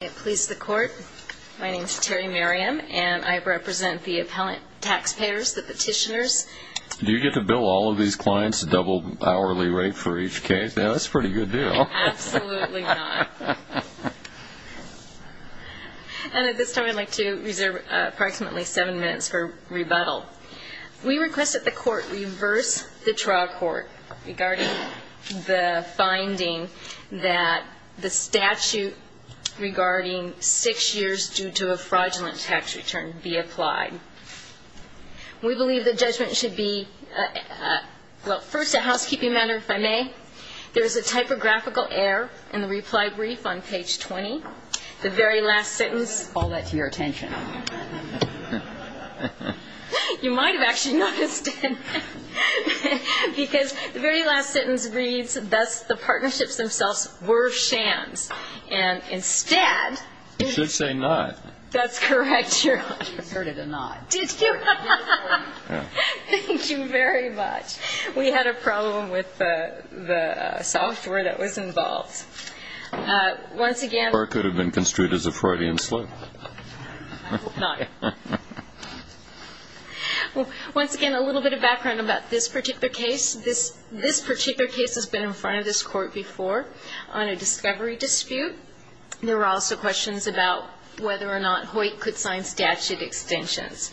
I please the court. My name is Terry Merriam, and I represent the appellant taxpayers, the petitioners. Do you get to bill all of these clients a double hourly rate for each case? Yeah, that's a pretty good deal. Absolutely not. And at this time I'd like to reserve approximately seven minutes for rebuttal. We request that the court reverse the trial court regarding the finding that the statute regarding six years due to a fraudulent tax return be applied. We believe the judgment should be, well, first a housekeeping matter, if I may. There is a typographical error in the reply brief on page 20. The very last sentence. Call that to your attention. You might have actually noticed it, because the very last sentence reads, Thus, the partnerships themselves were shams. And instead, You should say not. That's correct, Your Honor. I heard a not. Did you? Thank you very much. We had a problem with the software that was involved. Once again, Or it could have been construed as a Freudian slip. I hope not. Once again, a little bit of background about this particular case. This particular case has been in front of this court before on a discovery dispute. There were also questions about whether or not Hoyt could sign statute extensions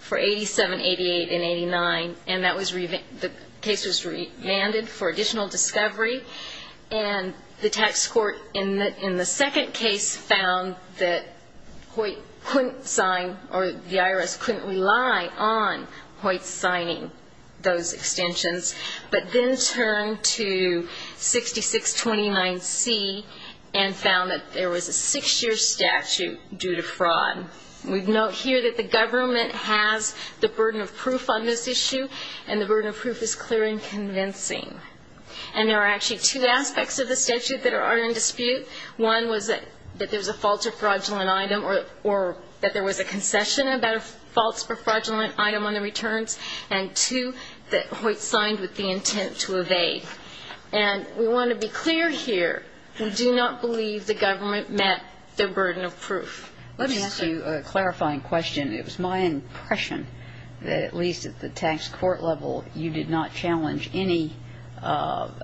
for 87, 88, and 89, and the case was revanded for additional discovery. And the tax court in the second case found that Hoyt couldn't sign, or the IRS couldn't rely on Hoyt signing those extensions, but then turned to 6629C and found that there was a six-year statute due to fraud. We note here that the government has the burden of proof on this issue, and the burden of proof is clear and convincing. And there are actually two aspects of the statute that are in dispute. One was that there was a false or fraudulent item, or that there was a concession about a false or fraudulent item on the returns, and two, that Hoyt signed with the intent to evade. And we want to be clear here. We do not believe the government met their burden of proof. Let me ask you a clarifying question. It was my impression that at least at the tax court level, you did not challenge any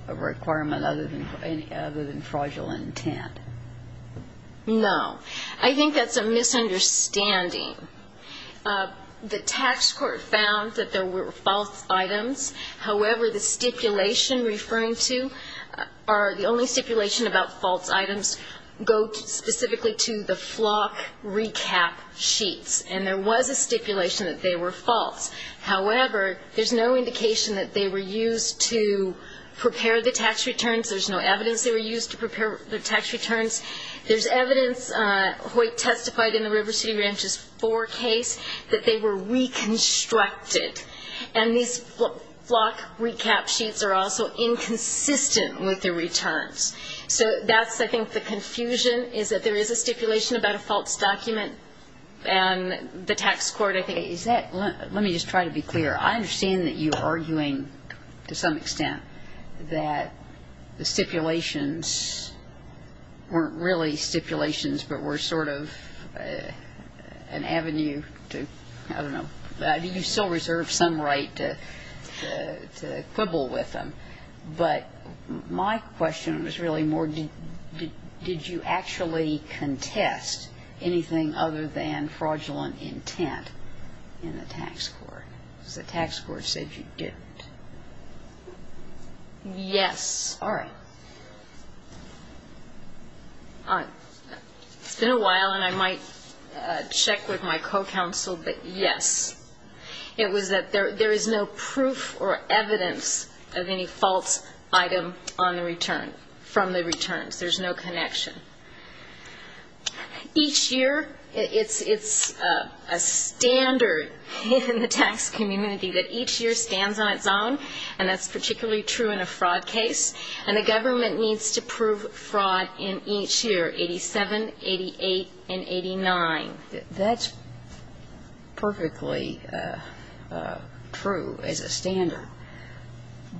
requirement other than fraudulent intent. No. I think that's a misunderstanding. The tax court found that there were false items. However, the stipulation referring to or the only stipulation about false items go specifically to the flock recap sheets, and there was a stipulation that they were false. However, there's no indication that they were used to prepare the tax returns. There's no evidence they were used to prepare the tax returns. There's evidence Hoyt testified in the River City Ranchers 4 case that they were reconstructed, and these flock recap sheets are also inconsistent with the returns. So that's, I think, the confusion, is that there is a stipulation about a false document, and the tax court, I think, is that. Let me just try to be clear. I understand that you are arguing to some extent that the stipulations weren't really stipulations but were sort of an avenue to, I don't know, do you still reserve some right to quibble with them? But my question was really more did you actually contest anything other than fraudulent intent in the tax court? Because the tax court said you didn't. Yes. All right. It's been a while, and I might check with my co-counsel, but yes. It was that there is no proof or evidence of any false item on the return, from the returns. There's no connection. Each year, it's a standard in the tax community that each year stands on its own, and that's particularly true in a fraud case, and the government needs to prove fraud in each year, 87, 88, and 89. That's perfectly true as a standard.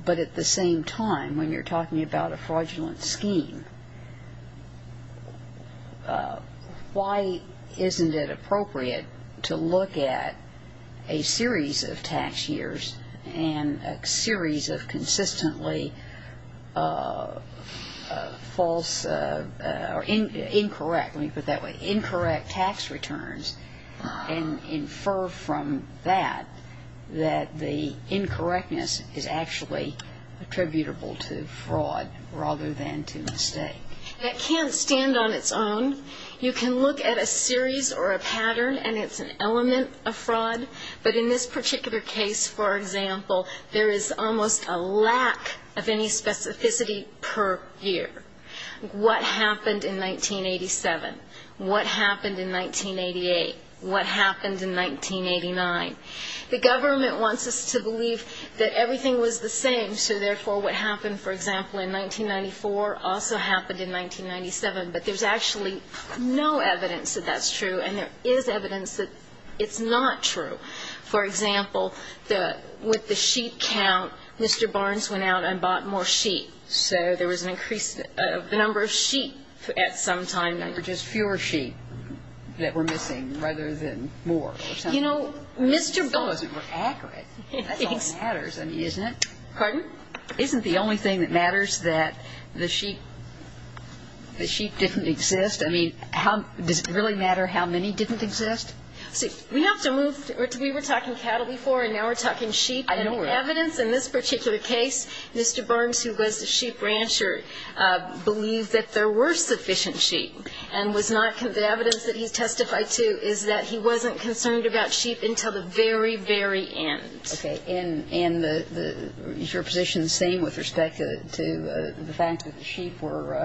But at the same time, when you're talking about a fraudulent scheme, why isn't it appropriate to look at a series of tax years and a series of consistently false or incorrect, let me put it that way, incorrect tax returns and infer from that that the incorrectness is actually attributable to fraud rather than to mistake? That can't stand on its own. You can look at a series or a pattern, and it's an element of fraud, but in this particular case, for example, there is almost a lack of any specificity per year. What happened in 1987? What happened in 1988? What happened in 1989? The government wants us to believe that everything was the same, so therefore what happened, for example, in 1994 also happened in 1997, but there's actually no evidence that that's true, and there is evidence that it's not true. For example, with the sheep count, Mr. Barnes went out and bought more sheep, so there was an increase of the number of sheep at some time. Or just fewer sheep that were missing rather than more or something. You know, Mr. Barnes — As long as it were accurate. That's all that matters, isn't it? Pardon? Isn't the only thing that matters that the sheep didn't exist? I mean, does it really matter how many didn't exist? See, we have to move — we were talking cattle before, and now we're talking sheep. I know. And the evidence in this particular case, Mr. Barnes, who was the sheep rancher, believed that there were sufficient sheep, and the evidence that he testified to is that he wasn't concerned about sheep until the very, very end. Okay. And is your position the same with respect to the fact that the sheep were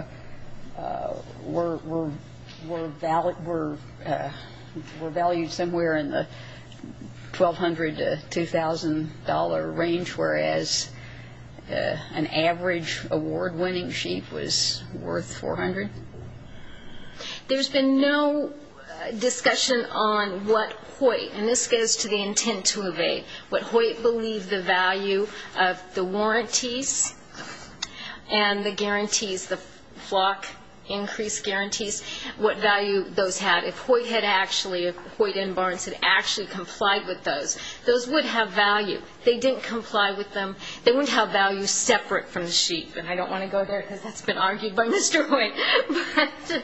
valued somewhere in the $1,200 to $2,000 range, whereas an average award-winning sheep was worth $400? There's been no discussion on what Hoyt — and this goes to the intent to evade — but Hoyt believed the value of the warranties and the guarantees, the flock increase guarantees, what value those had. If Hoyt had actually — if Hoyt and Barnes had actually complied with those, those would have value. They didn't comply with them. They wouldn't have value separate from the sheep. And I don't want to go there, because that's been argued by Mr. Hoyt. But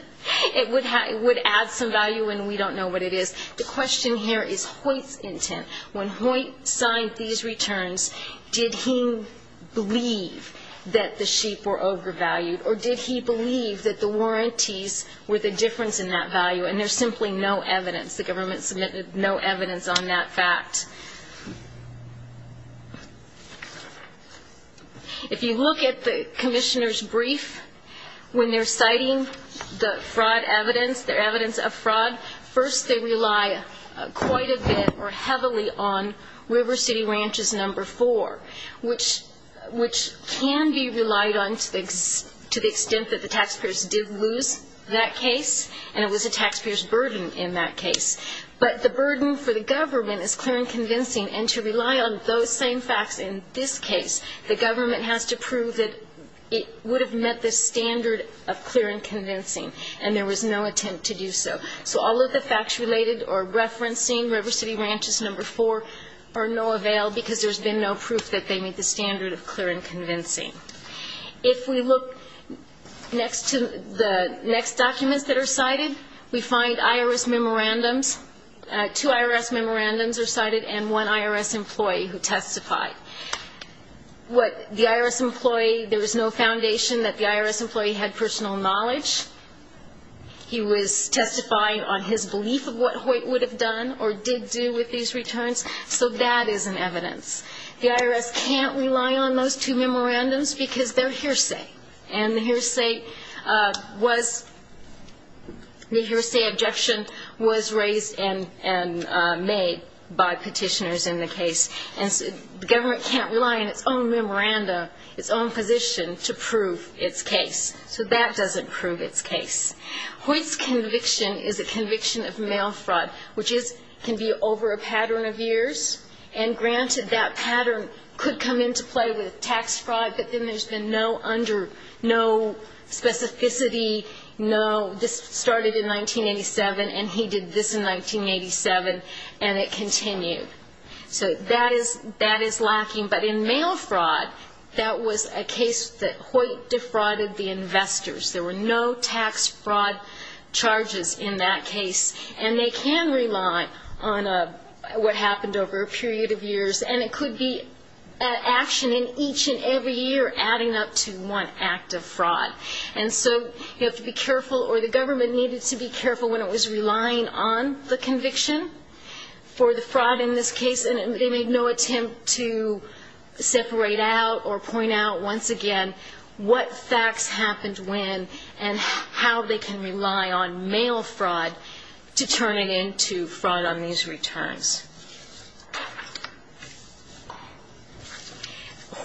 it would add some value, and we don't know what it is. The question here is Hoyt's intent. When Hoyt signed these returns, did he believe that the sheep were overvalued, or did he believe that the warranties were the difference in that value? And there's simply no evidence. The government submitted no evidence on that fact. If you look at the commissioner's brief, when they're citing the fraud evidence, the evidence of fraud, first they rely quite a bit or heavily on River City Ranch's number four, which can be relied on to the extent that the taxpayers did lose that case, and it was a taxpayer's burden in that case. But the burden for the government is clear and convincing, and to rely on those same facts in this case, the government has to prove that it would have met the standard of clear and convincing, and there was no attempt to do so. So all of the facts related or referencing River City Ranch's number four are no avail because there's been no proof that they meet the standard of clear and convincing. If we look next to the next documents that are cited, we find IRS memorandums. Two IRS memorandums are cited and one IRS employee who testified. The IRS employee, there was no foundation that the IRS employee had personal knowledge. He was testifying on his belief of what Hoyt would have done or did do with these returns, so that is an evidence. The IRS can't rely on those two memorandums because they're hearsay, and the hearsay objection was raised and made by petitioners in the case, and the government can't rely on its own memorandum, its own position, to prove its case. So that doesn't prove its case. Hoyt's conviction is a conviction of mail fraud, which can be over a pattern of years, and granted that pattern could come into play with tax fraud, but then there's been no specificity, no this started in 1987 and he did this in 1987, and it continued. So that is lacking. But in mail fraud, that was a case that Hoyt defrauded the investors. There were no tax fraud charges in that case, and they can rely on what happened over a period of years, and it could be action in each and every year adding up to one act of fraud. And so you have to be careful, or the government needed to be careful when it was relying on the conviction for the fraud in this case, and they made no attempt to separate out or point out once again what facts happened when and how they can rely on mail fraud to turn it into fraud on these returns.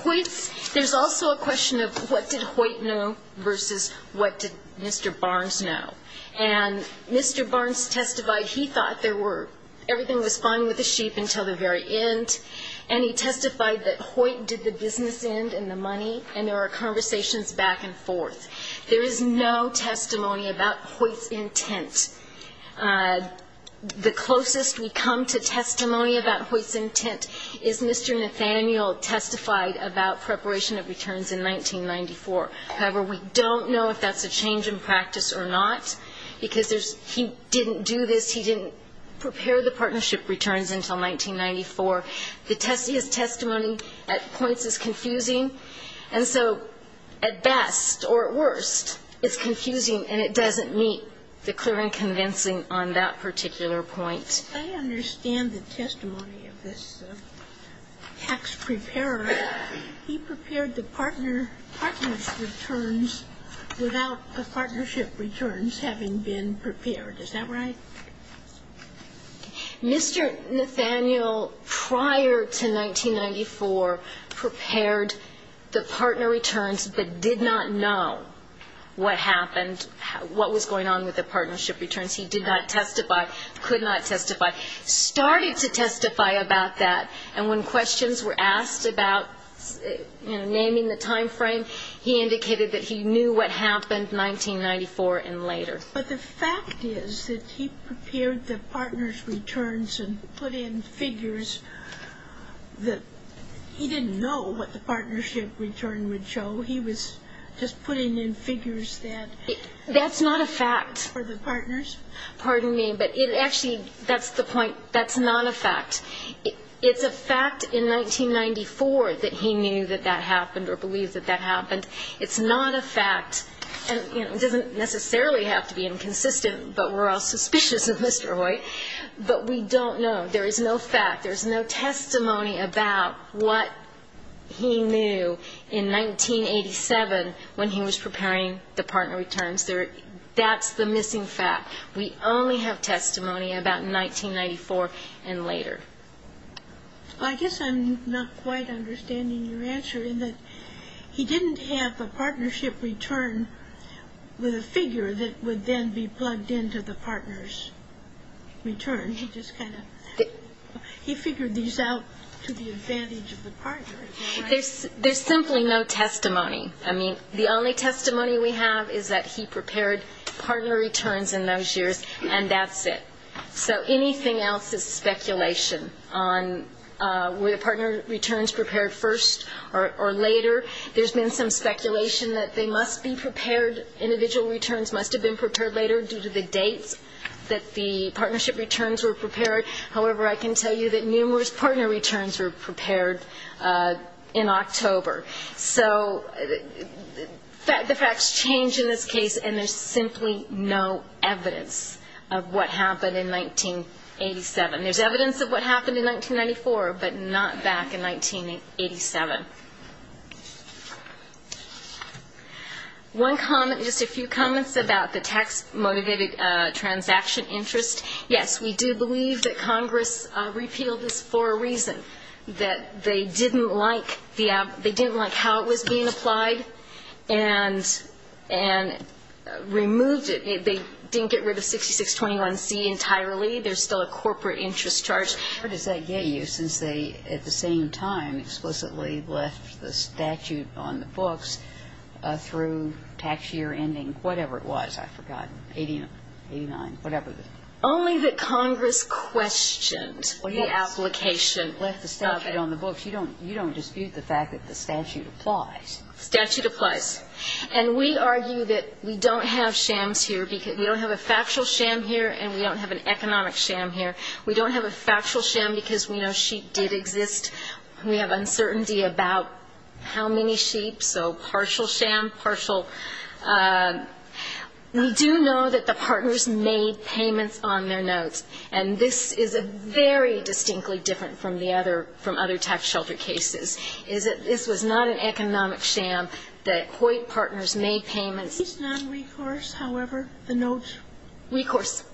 Hoyt's, there's also a question of what did Hoyt know versus what did Mr. Barnes know. And Mr. Barnes testified he thought there were, everything was fine with the sheep until the very end, and he testified that Hoyt did the business end and the money, and there were conversations back and forth. There is no testimony about Hoyt's intent. The closest we come to testimony about Hoyt's intent is Mr. Nathaniel testified about preparation of returns in 1994. However, we don't know if that's a change in practice or not, because he didn't do this. He didn't prepare the partnership returns until 1994. His testimony at points is confusing, and so at best, or at worst, it's confusing, and it doesn't meet the clear and convincing on that particular point. I understand the testimony of this tax preparer. He prepared the partner's returns without the partnership returns having been prepared. Is that right? Mr. Nathaniel, prior to 1994, prepared the partner returns but did not know what happened, what was going on with the partnership returns. He did not testify, could not testify, started to testify about that, and when questions were asked about naming the time frame, he indicated that he knew what happened 1994 and later. But the fact is that he prepared the partner's returns and put in figures that he didn't know what the partnership return would show. He was just putting in figures that were for the partners. That's not a fact. Pardon me, but actually, that's the point. That's not a fact. It's a fact in 1994 that he knew that that happened or believed that that happened. It's not a fact, and it doesn't necessarily have to be inconsistent, but we're all suspicious of Mr. Hoyt. But we don't know. There is no fact. There is no testimony about what he knew in 1987 when he was preparing the partner returns. That's the missing fact. We only have testimony about 1994 and later. I guess I'm not quite understanding your answer in that he didn't have a partnership return with a figure that would then be plugged into the partner's return. He just kind of he figured these out to the advantage of the partner. There's simply no testimony. I mean, the only testimony we have is that he prepared partner returns in those years, and that's it. So anything else is speculation on were the partner returns prepared first or later. There's been some speculation that they must be prepared, individual returns must have been prepared later due to the dates that the partnership returns were prepared. However, I can tell you that numerous partner returns were prepared in October. So the facts change in this case, and there's simply no evidence of what happened in 1987. There's evidence of what happened in 1994, but not back in 1987. One comment, just a few comments about the tax-motivated transaction interest. Yes, we do believe that Congress repealed this for a reason, that they didn't like how it was being applied and removed it. They didn't get rid of 6621C entirely. There's still a corporate interest charge. Where does that get you since they, at the same time, explicitly left the statute on the books through tax year ending, whatever it was? I've forgotten, 89, whatever it was. Only that Congress questioned the application. Left the statute on the books. You don't dispute the fact that the statute applies. Statute applies. And we argue that we don't have shams here. We don't have a factual sham here, and we don't have an economic sham here. We don't have a factual sham because we know sheep did exist. We have uncertainty about how many sheep, so partial sham, partial. We do know that the partners made payments on their notes, and this is very distinctly different from other tax shelter cases, is that this was not an economic sham, that Hoyt partners made payments. It's non-recourse, however, the notes. Recourse.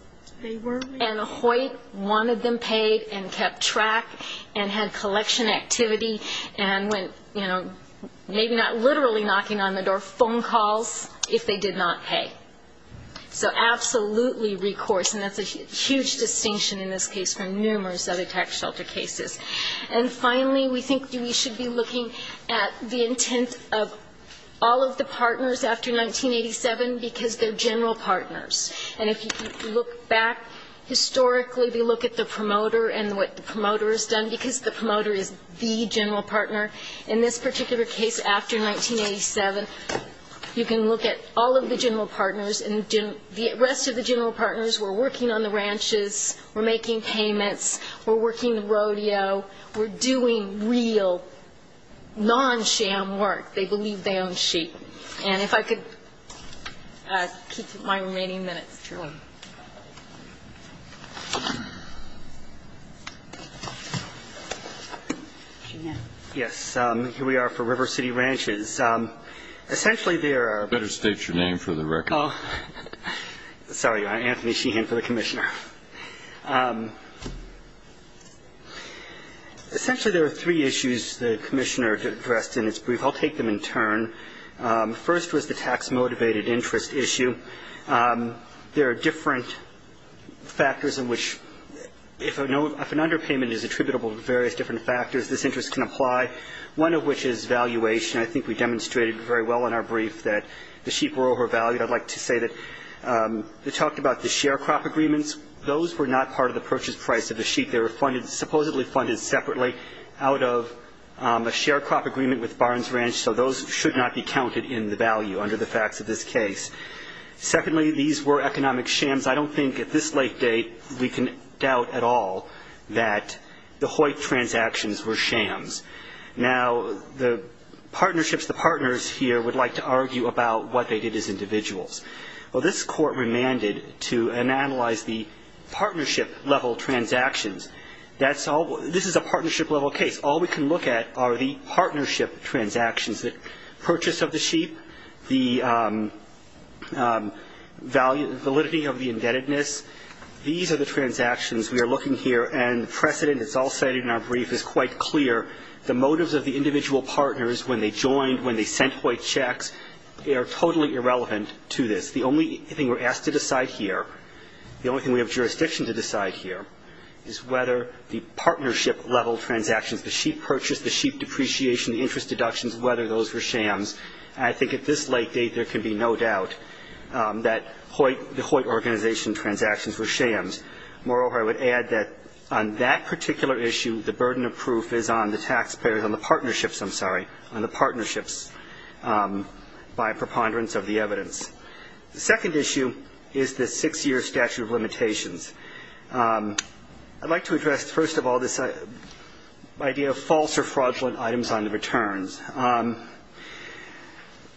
They were recourse. And Hoyt wanted them paid and kept track and had collection activity and went, you know, maybe not literally knocking on the door, phone calls if they did not pay. So absolutely recourse, and that's a huge distinction in this case from numerous other tax shelter cases. And finally, we think we should be looking at the intent of all of the partners after 1987 because they're general partners. And if you look back historically, we look at the promoter and what the promoter has done because the promoter is the general partner. In this particular case after 1987, you can look at all of the general partners and the rest of the general partners were working on the ranches, were making payments, were working the rodeo, were doing real non-sham work. They believed they owned sheep. And if I could keep my remaining minutes. Sure. Yes. Here we are for River City Ranches. Essentially there are. Better state your name for the record. Sorry, Anthony Sheehan for the commissioner. Essentially there are three issues the commissioner addressed in his brief. I'll take them in turn. First was the tax-motivated interest issue. There are different factors in which if an underpayment is attributable to various different factors, this interest can apply, one of which is valuation. I think we demonstrated very well in our brief that the sheep were overvalued. I'd like to say that we talked about the share crop agreements. Those were not part of the purchase price of the sheep. They were supposedly funded separately out of a share crop agreement with Barnes Ranch, so those should not be counted in the value under the facts of this case. Secondly, these were economic shams. I don't think at this late date we can doubt at all that the Hoyt transactions were shams. Now, the partnerships, the partners here would like to argue about what they did as individuals. Well, this court remanded to analyze the partnership-level transactions. This is a partnership-level case. All we can look at are the partnership transactions, the purchase of the sheep, the validity of the indebtedness. These are the transactions we are looking here, and precedent that's all cited in our brief is quite clear. The motives of the individual partners when they joined, when they sent Hoyt checks, they are totally irrelevant to this. The only thing we're asked to decide here, the only thing we have jurisdiction to decide here, is whether the partnership-level transactions, the sheep purchase, the sheep depreciation, the interest deductions, whether those were shams. I think at this late date there can be no doubt that the Hoyt organization transactions were shams. Moreover, I would add that on that particular issue, the burden of proof is on the taxpayers, on the partnerships, I'm sorry, on the partnerships by preponderance of the evidence. The second issue is the six-year statute of limitations. I'd like to address first of all this idea of false or fraudulent items on the returns.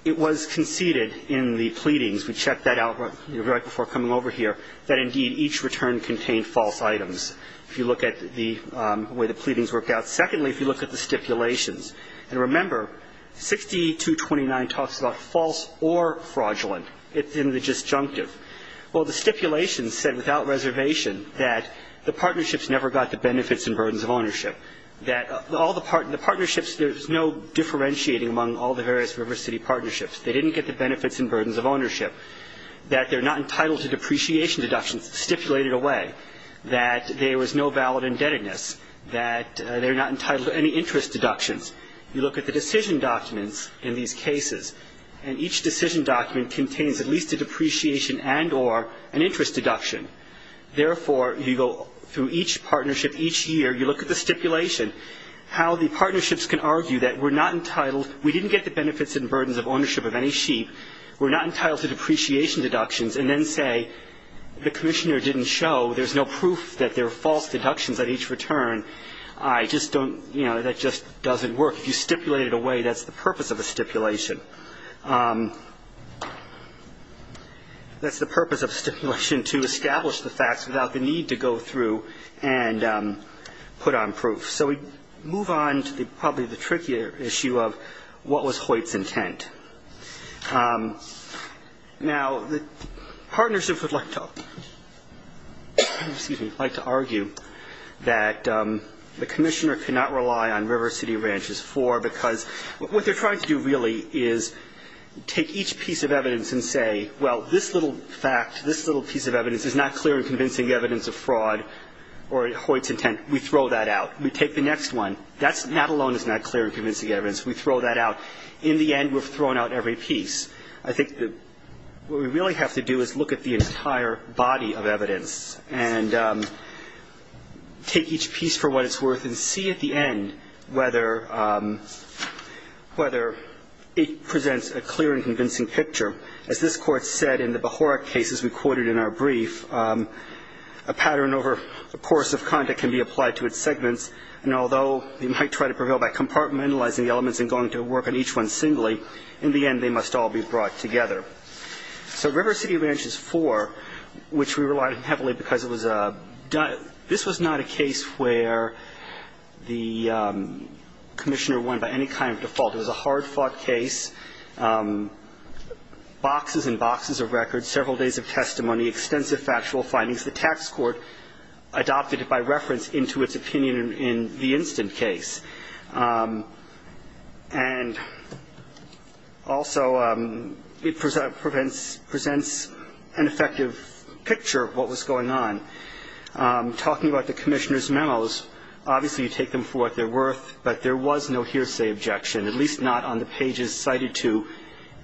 It was conceded in the pleadings, we checked that out right before coming over here, that indeed each return contained false items. If you look at the way the pleadings worked out. Secondly, if you look at the stipulations. And remember, 6229 talks about false or fraudulent. It's in the disjunctive. Well, the stipulations said without reservation that the partnerships never got the benefits and burdens of ownership, that all the partnerships, there's no differentiating among all the various River City partnerships. They didn't get the benefits and burdens of ownership, that they're not entitled to depreciation deductions stipulated away, that there was no valid indebtedness, that they're not entitled to any interest deductions. You look at the decision documents in these cases, and each decision document contains at least a depreciation and or an interest deduction. Therefore, you go through each partnership each year, you look at the stipulation, how the partnerships can argue that we're not entitled, we didn't get the benefits and burdens of ownership of any sheep, we're not entitled to depreciation deductions, and then say the commissioner didn't show, there's no proof that there are false deductions at each return. I just don't, you know, that just doesn't work. If you stipulate it away, that's the purpose of a stipulation. That's the purpose of a stipulation, to establish the facts without the need to go through and put on proof. So we move on to probably the trickier issue of what was Hoyt's intent. Now, the partnership would like to argue that the commissioner cannot rely on River City Ranchers 4 because what they're trying to do really is take each piece of evidence and say, well, this little fact, this little piece of evidence is not clear in convincing evidence of fraud or Hoyt's intent. We throw that out. We take the next one. That alone is not clear in convincing evidence. We throw that out. In the end, we've thrown out every piece. I think that what we really have to do is look at the entire body of evidence and take each piece for what it's worth and see at the end whether it presents a clear and convincing picture. As this Court said in the Bohoric cases we quoted in our brief, a pattern over the course of conduct can be applied to its segments, and although they might try to prevail by compartmentalizing the elements and going to work on each one singly, in the end they must all be brought together. So River City Ranchers 4, which we relied heavily because it was a – this was not a case where the commissioner won by any kind of default. It was a hard-fought case, boxes and boxes of records, several days of testimony, extensive factual findings. The tax court adopted it by reference into its opinion in the instant case. And also it presents an effective picture of what was going on. Talking about the commissioner's memos, obviously you take them for what they're worth, but there was no hearsay objection, at least not on the pages cited to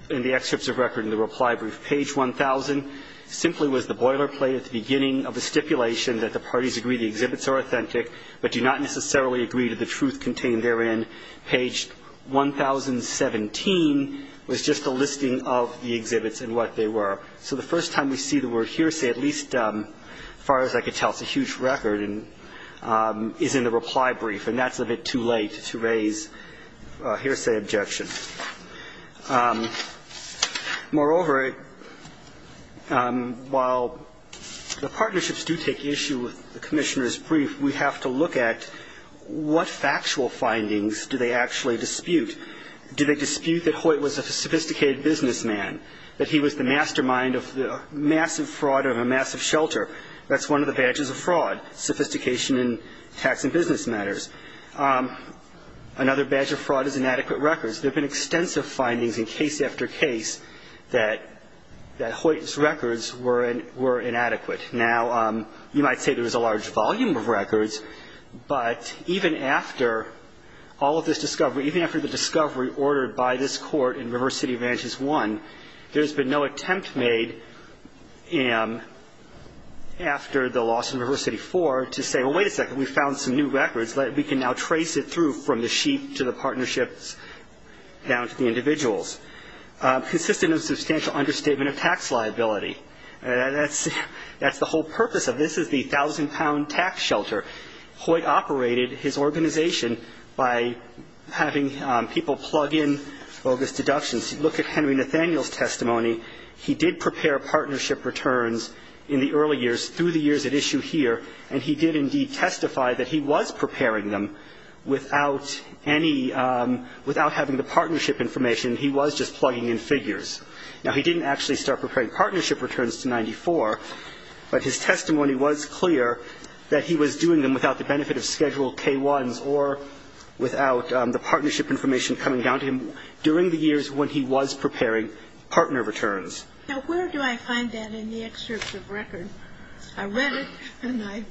in the excerpts of record in the reply brief. Page 1,000 simply was the boilerplate at the beginning of the stipulation that the parties agree the exhibits are authentic but do not necessarily agree to the truth contained therein. Page 1,017 was just a listing of the exhibits and what they were. So the first time we see the word hearsay, at least as far as I could tell, it's a huge record and is in the reply brief, and that's a bit too late to raise hearsay objection. Moreover, while the partnerships do take issue with the commissioner's brief, we have to look at what factual findings do they actually dispute. Do they dispute that Hoyt was a sophisticated businessman, that he was the mastermind of the massive fraud of a massive shelter? That's one of the badges of fraud, sophistication in tax and business matters. Another badge of fraud is inadequate records. There have been extensive findings in case after case that Hoyt's records were inadequate. Now, you might say there was a large volume of records, but even after all of this discovery, even after the discovery ordered by this court in River City Vantages I, there has been no attempt made after the loss in River City IV to say, well, wait a second, we found some new records. We can now trace it through from the sheep to the partnerships down to the individuals. Consistent with a substantial understatement of tax liability. That's the whole purpose of this is the 1,000-pound tax shelter. Hoyt operated his organization by having people plug in bogus deductions. Look at Henry Nathaniel's testimony. He did prepare partnership returns in the early years through the years at issue here, and he did indeed testify that he was preparing them without any, without having the partnership information. He was just plugging in figures. Now, he didn't actually start preparing partnership returns to 94, but his testimony was clear that he was doing them without the benefit of Schedule K1s or without the partnership information coming down to him during the years when he was preparing partner returns. Now, where do I find that in the excerpt of record? I read it, and I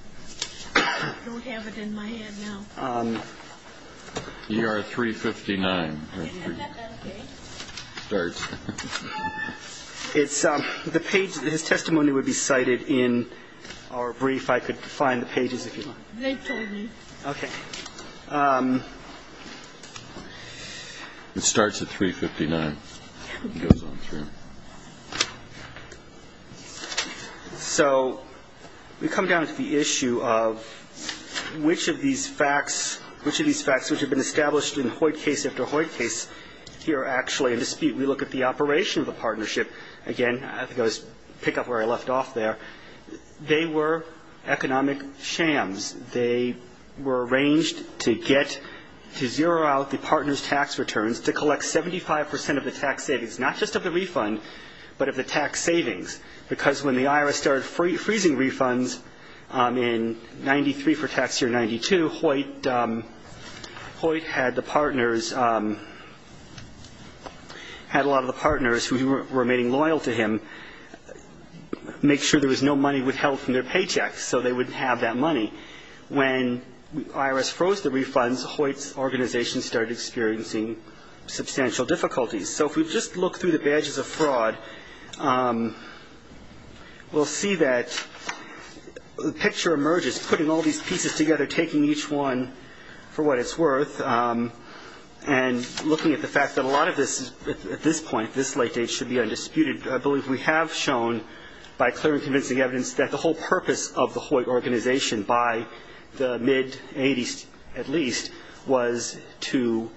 don't have it in my head now. ER 359. His testimony would be cited in our brief. I could find the pages if you like. They told me. Okay. It starts at 359 and goes on through. So we come down to the issue of which of these facts, which of these facts which have been established in Hoyt case after Hoyt case here are actually in dispute. We look at the operation of the partnership. Again, I think I'll just pick up where I left off there. They were economic shams. They were arranged to get, to zero out the partner's tax returns, to collect 75 percent of the tax savings, not just of the refund, but of the tax savings, because when the IRS started freezing refunds in 93 for tax year 92, Hoyt had the partners, had a lot of the partners who were remaining loyal to him, make sure there was no money withheld from their paychecks so they wouldn't have that money. When the IRS froze the refunds, Hoyt's organization started experiencing substantial difficulties. So if we just look through the badges of fraud, we'll see that the picture emerges putting all these pieces together, taking each one for what it's worth, and looking at the fact that a lot of this at this point, this late date, should be undisputed. I believe we have shown, by clear and convincing evidence, that the whole purpose of the Hoyt organization by the mid-'80s, at least, was to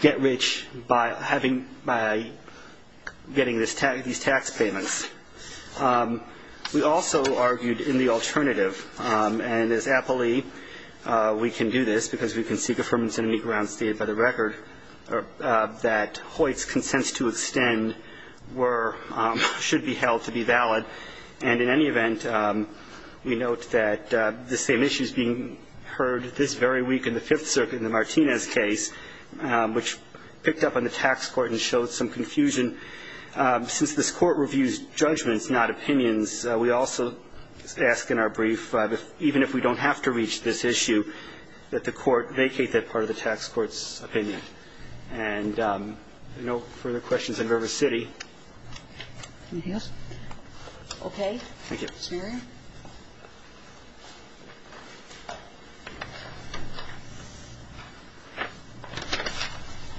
get rich by getting these tax payments. We also argued in the alternative, and as Applee, we can do this, because we can seek affirmance in any grounds stated by the record, that Hoyt's consents to extend should be held to be valid. And in any event, we note that the same issue is being heard this very week in the Fifth Circuit in the Martinez case, which picked up on the tax court and showed some confusion. Since this court reviews judgments, not opinions, we also ask in our brief, even if we don't have to reach this issue, that the court vacate that part of the tax court's opinion. And no further questions in River City. Anything else? Okay. Thank you. Ms. Mary?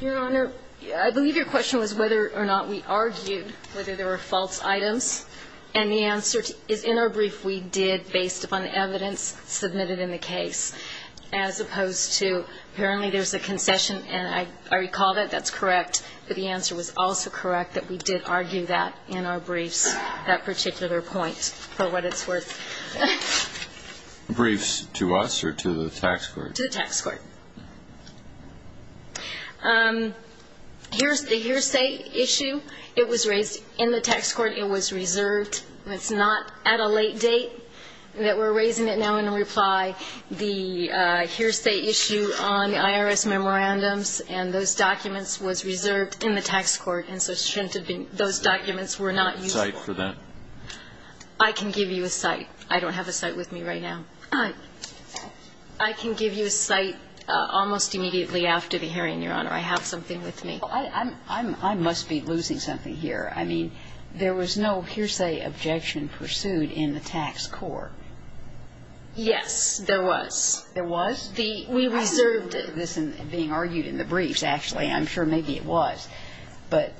Your Honor, I believe your question was whether or not we argued whether there were false items. And the answer is, in our brief, we did, based upon evidence submitted in the case, as opposed to apparently there's a concession, and I recall that that's correct, but the answer was also correct that we did argue that in our briefs, that particular point, for what it's worth. Briefs to us or to the tax court? To the tax court. Here's the hearsay issue. It was raised in the tax court. It was reserved. It's not at a late date that we're raising it now in reply. The hearsay issue on the IRS memorandums and those documents was reserved in the tax court, and so those documents were not used. A cite for that? I can give you a cite. I don't have a cite with me right now. I can give you a cite almost immediately after the hearing, Your Honor. I have something with me. I must be losing something here. I mean, there was no hearsay objection pursued in the tax court. Yes, there was. There was? We reserved it. I remember this being argued in the briefs, actually. I'm sure maybe it was. But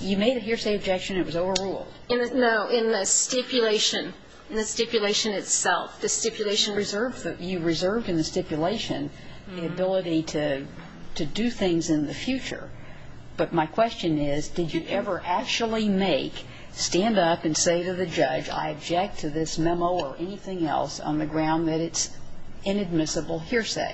you made a hearsay objection. It was overruled. No, in the stipulation. In the stipulation itself. You reserved in the stipulation the ability to do things in the future. But my question is, did you ever actually make, stand up and say to the judge, I object to this memo or anything else on the ground that it's inadmissible hearsay?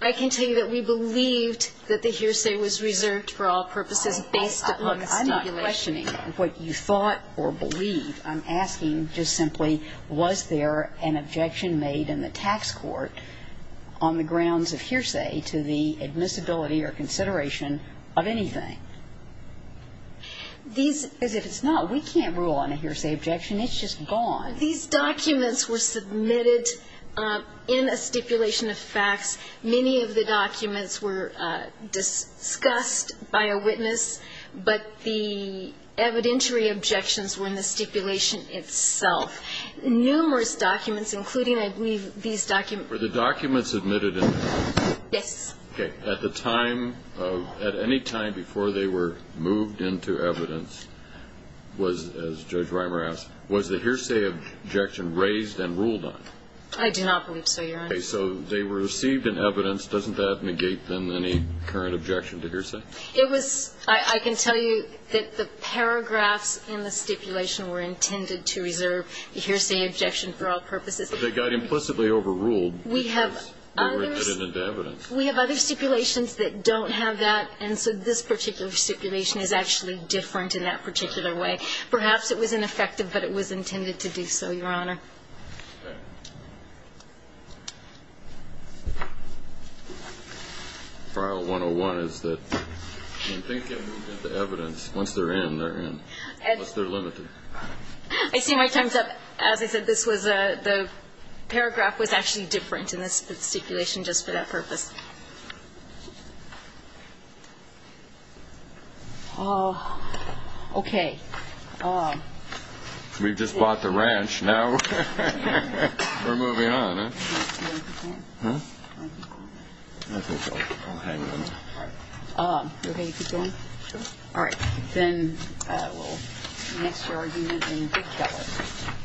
I can tell you that we believed that the hearsay was reserved for all purposes based on the stipulation. I'm not questioning what you thought or believed. I'm asking just simply, was there an objection made in the tax court on the grounds of hearsay to the admissibility or consideration of anything? As if it's not. We can't rule on a hearsay objection. It's just gone. These documents were submitted in a stipulation of facts. Many of the documents were discussed by a witness, but the evidentiary objections were in the stipulation itself. Numerous documents, including, I believe, these documents. Were the documents admitted in the stipulation? Yes. Okay. At the time of, at any time before they were moved into evidence, as Judge Reimer asked, was the hearsay objection raised and ruled on? I do not believe so, Your Honor. Okay. So they were received in evidence. Doesn't that negate them any current objection to hearsay? It was, I can tell you that the paragraphs in the stipulation were intended to reserve hearsay objection for all purposes. But they got implicitly overruled because they were admitted into evidence. We have other stipulations that don't have that, and so this particular stipulation is actually different in that particular way. Perhaps it was ineffective, but it was intended to do so, Your Honor. Okay. File 101 is that when they get moved into evidence, once they're in, they're in. Unless they're limited. I see my time's up. As I said, this was a, the paragraph was actually different in this stipulation just for that purpose. Oh, okay. We've just bought the ranch. Now we're moving on, huh? You okay to continue? Sure. All right. Then we'll move on.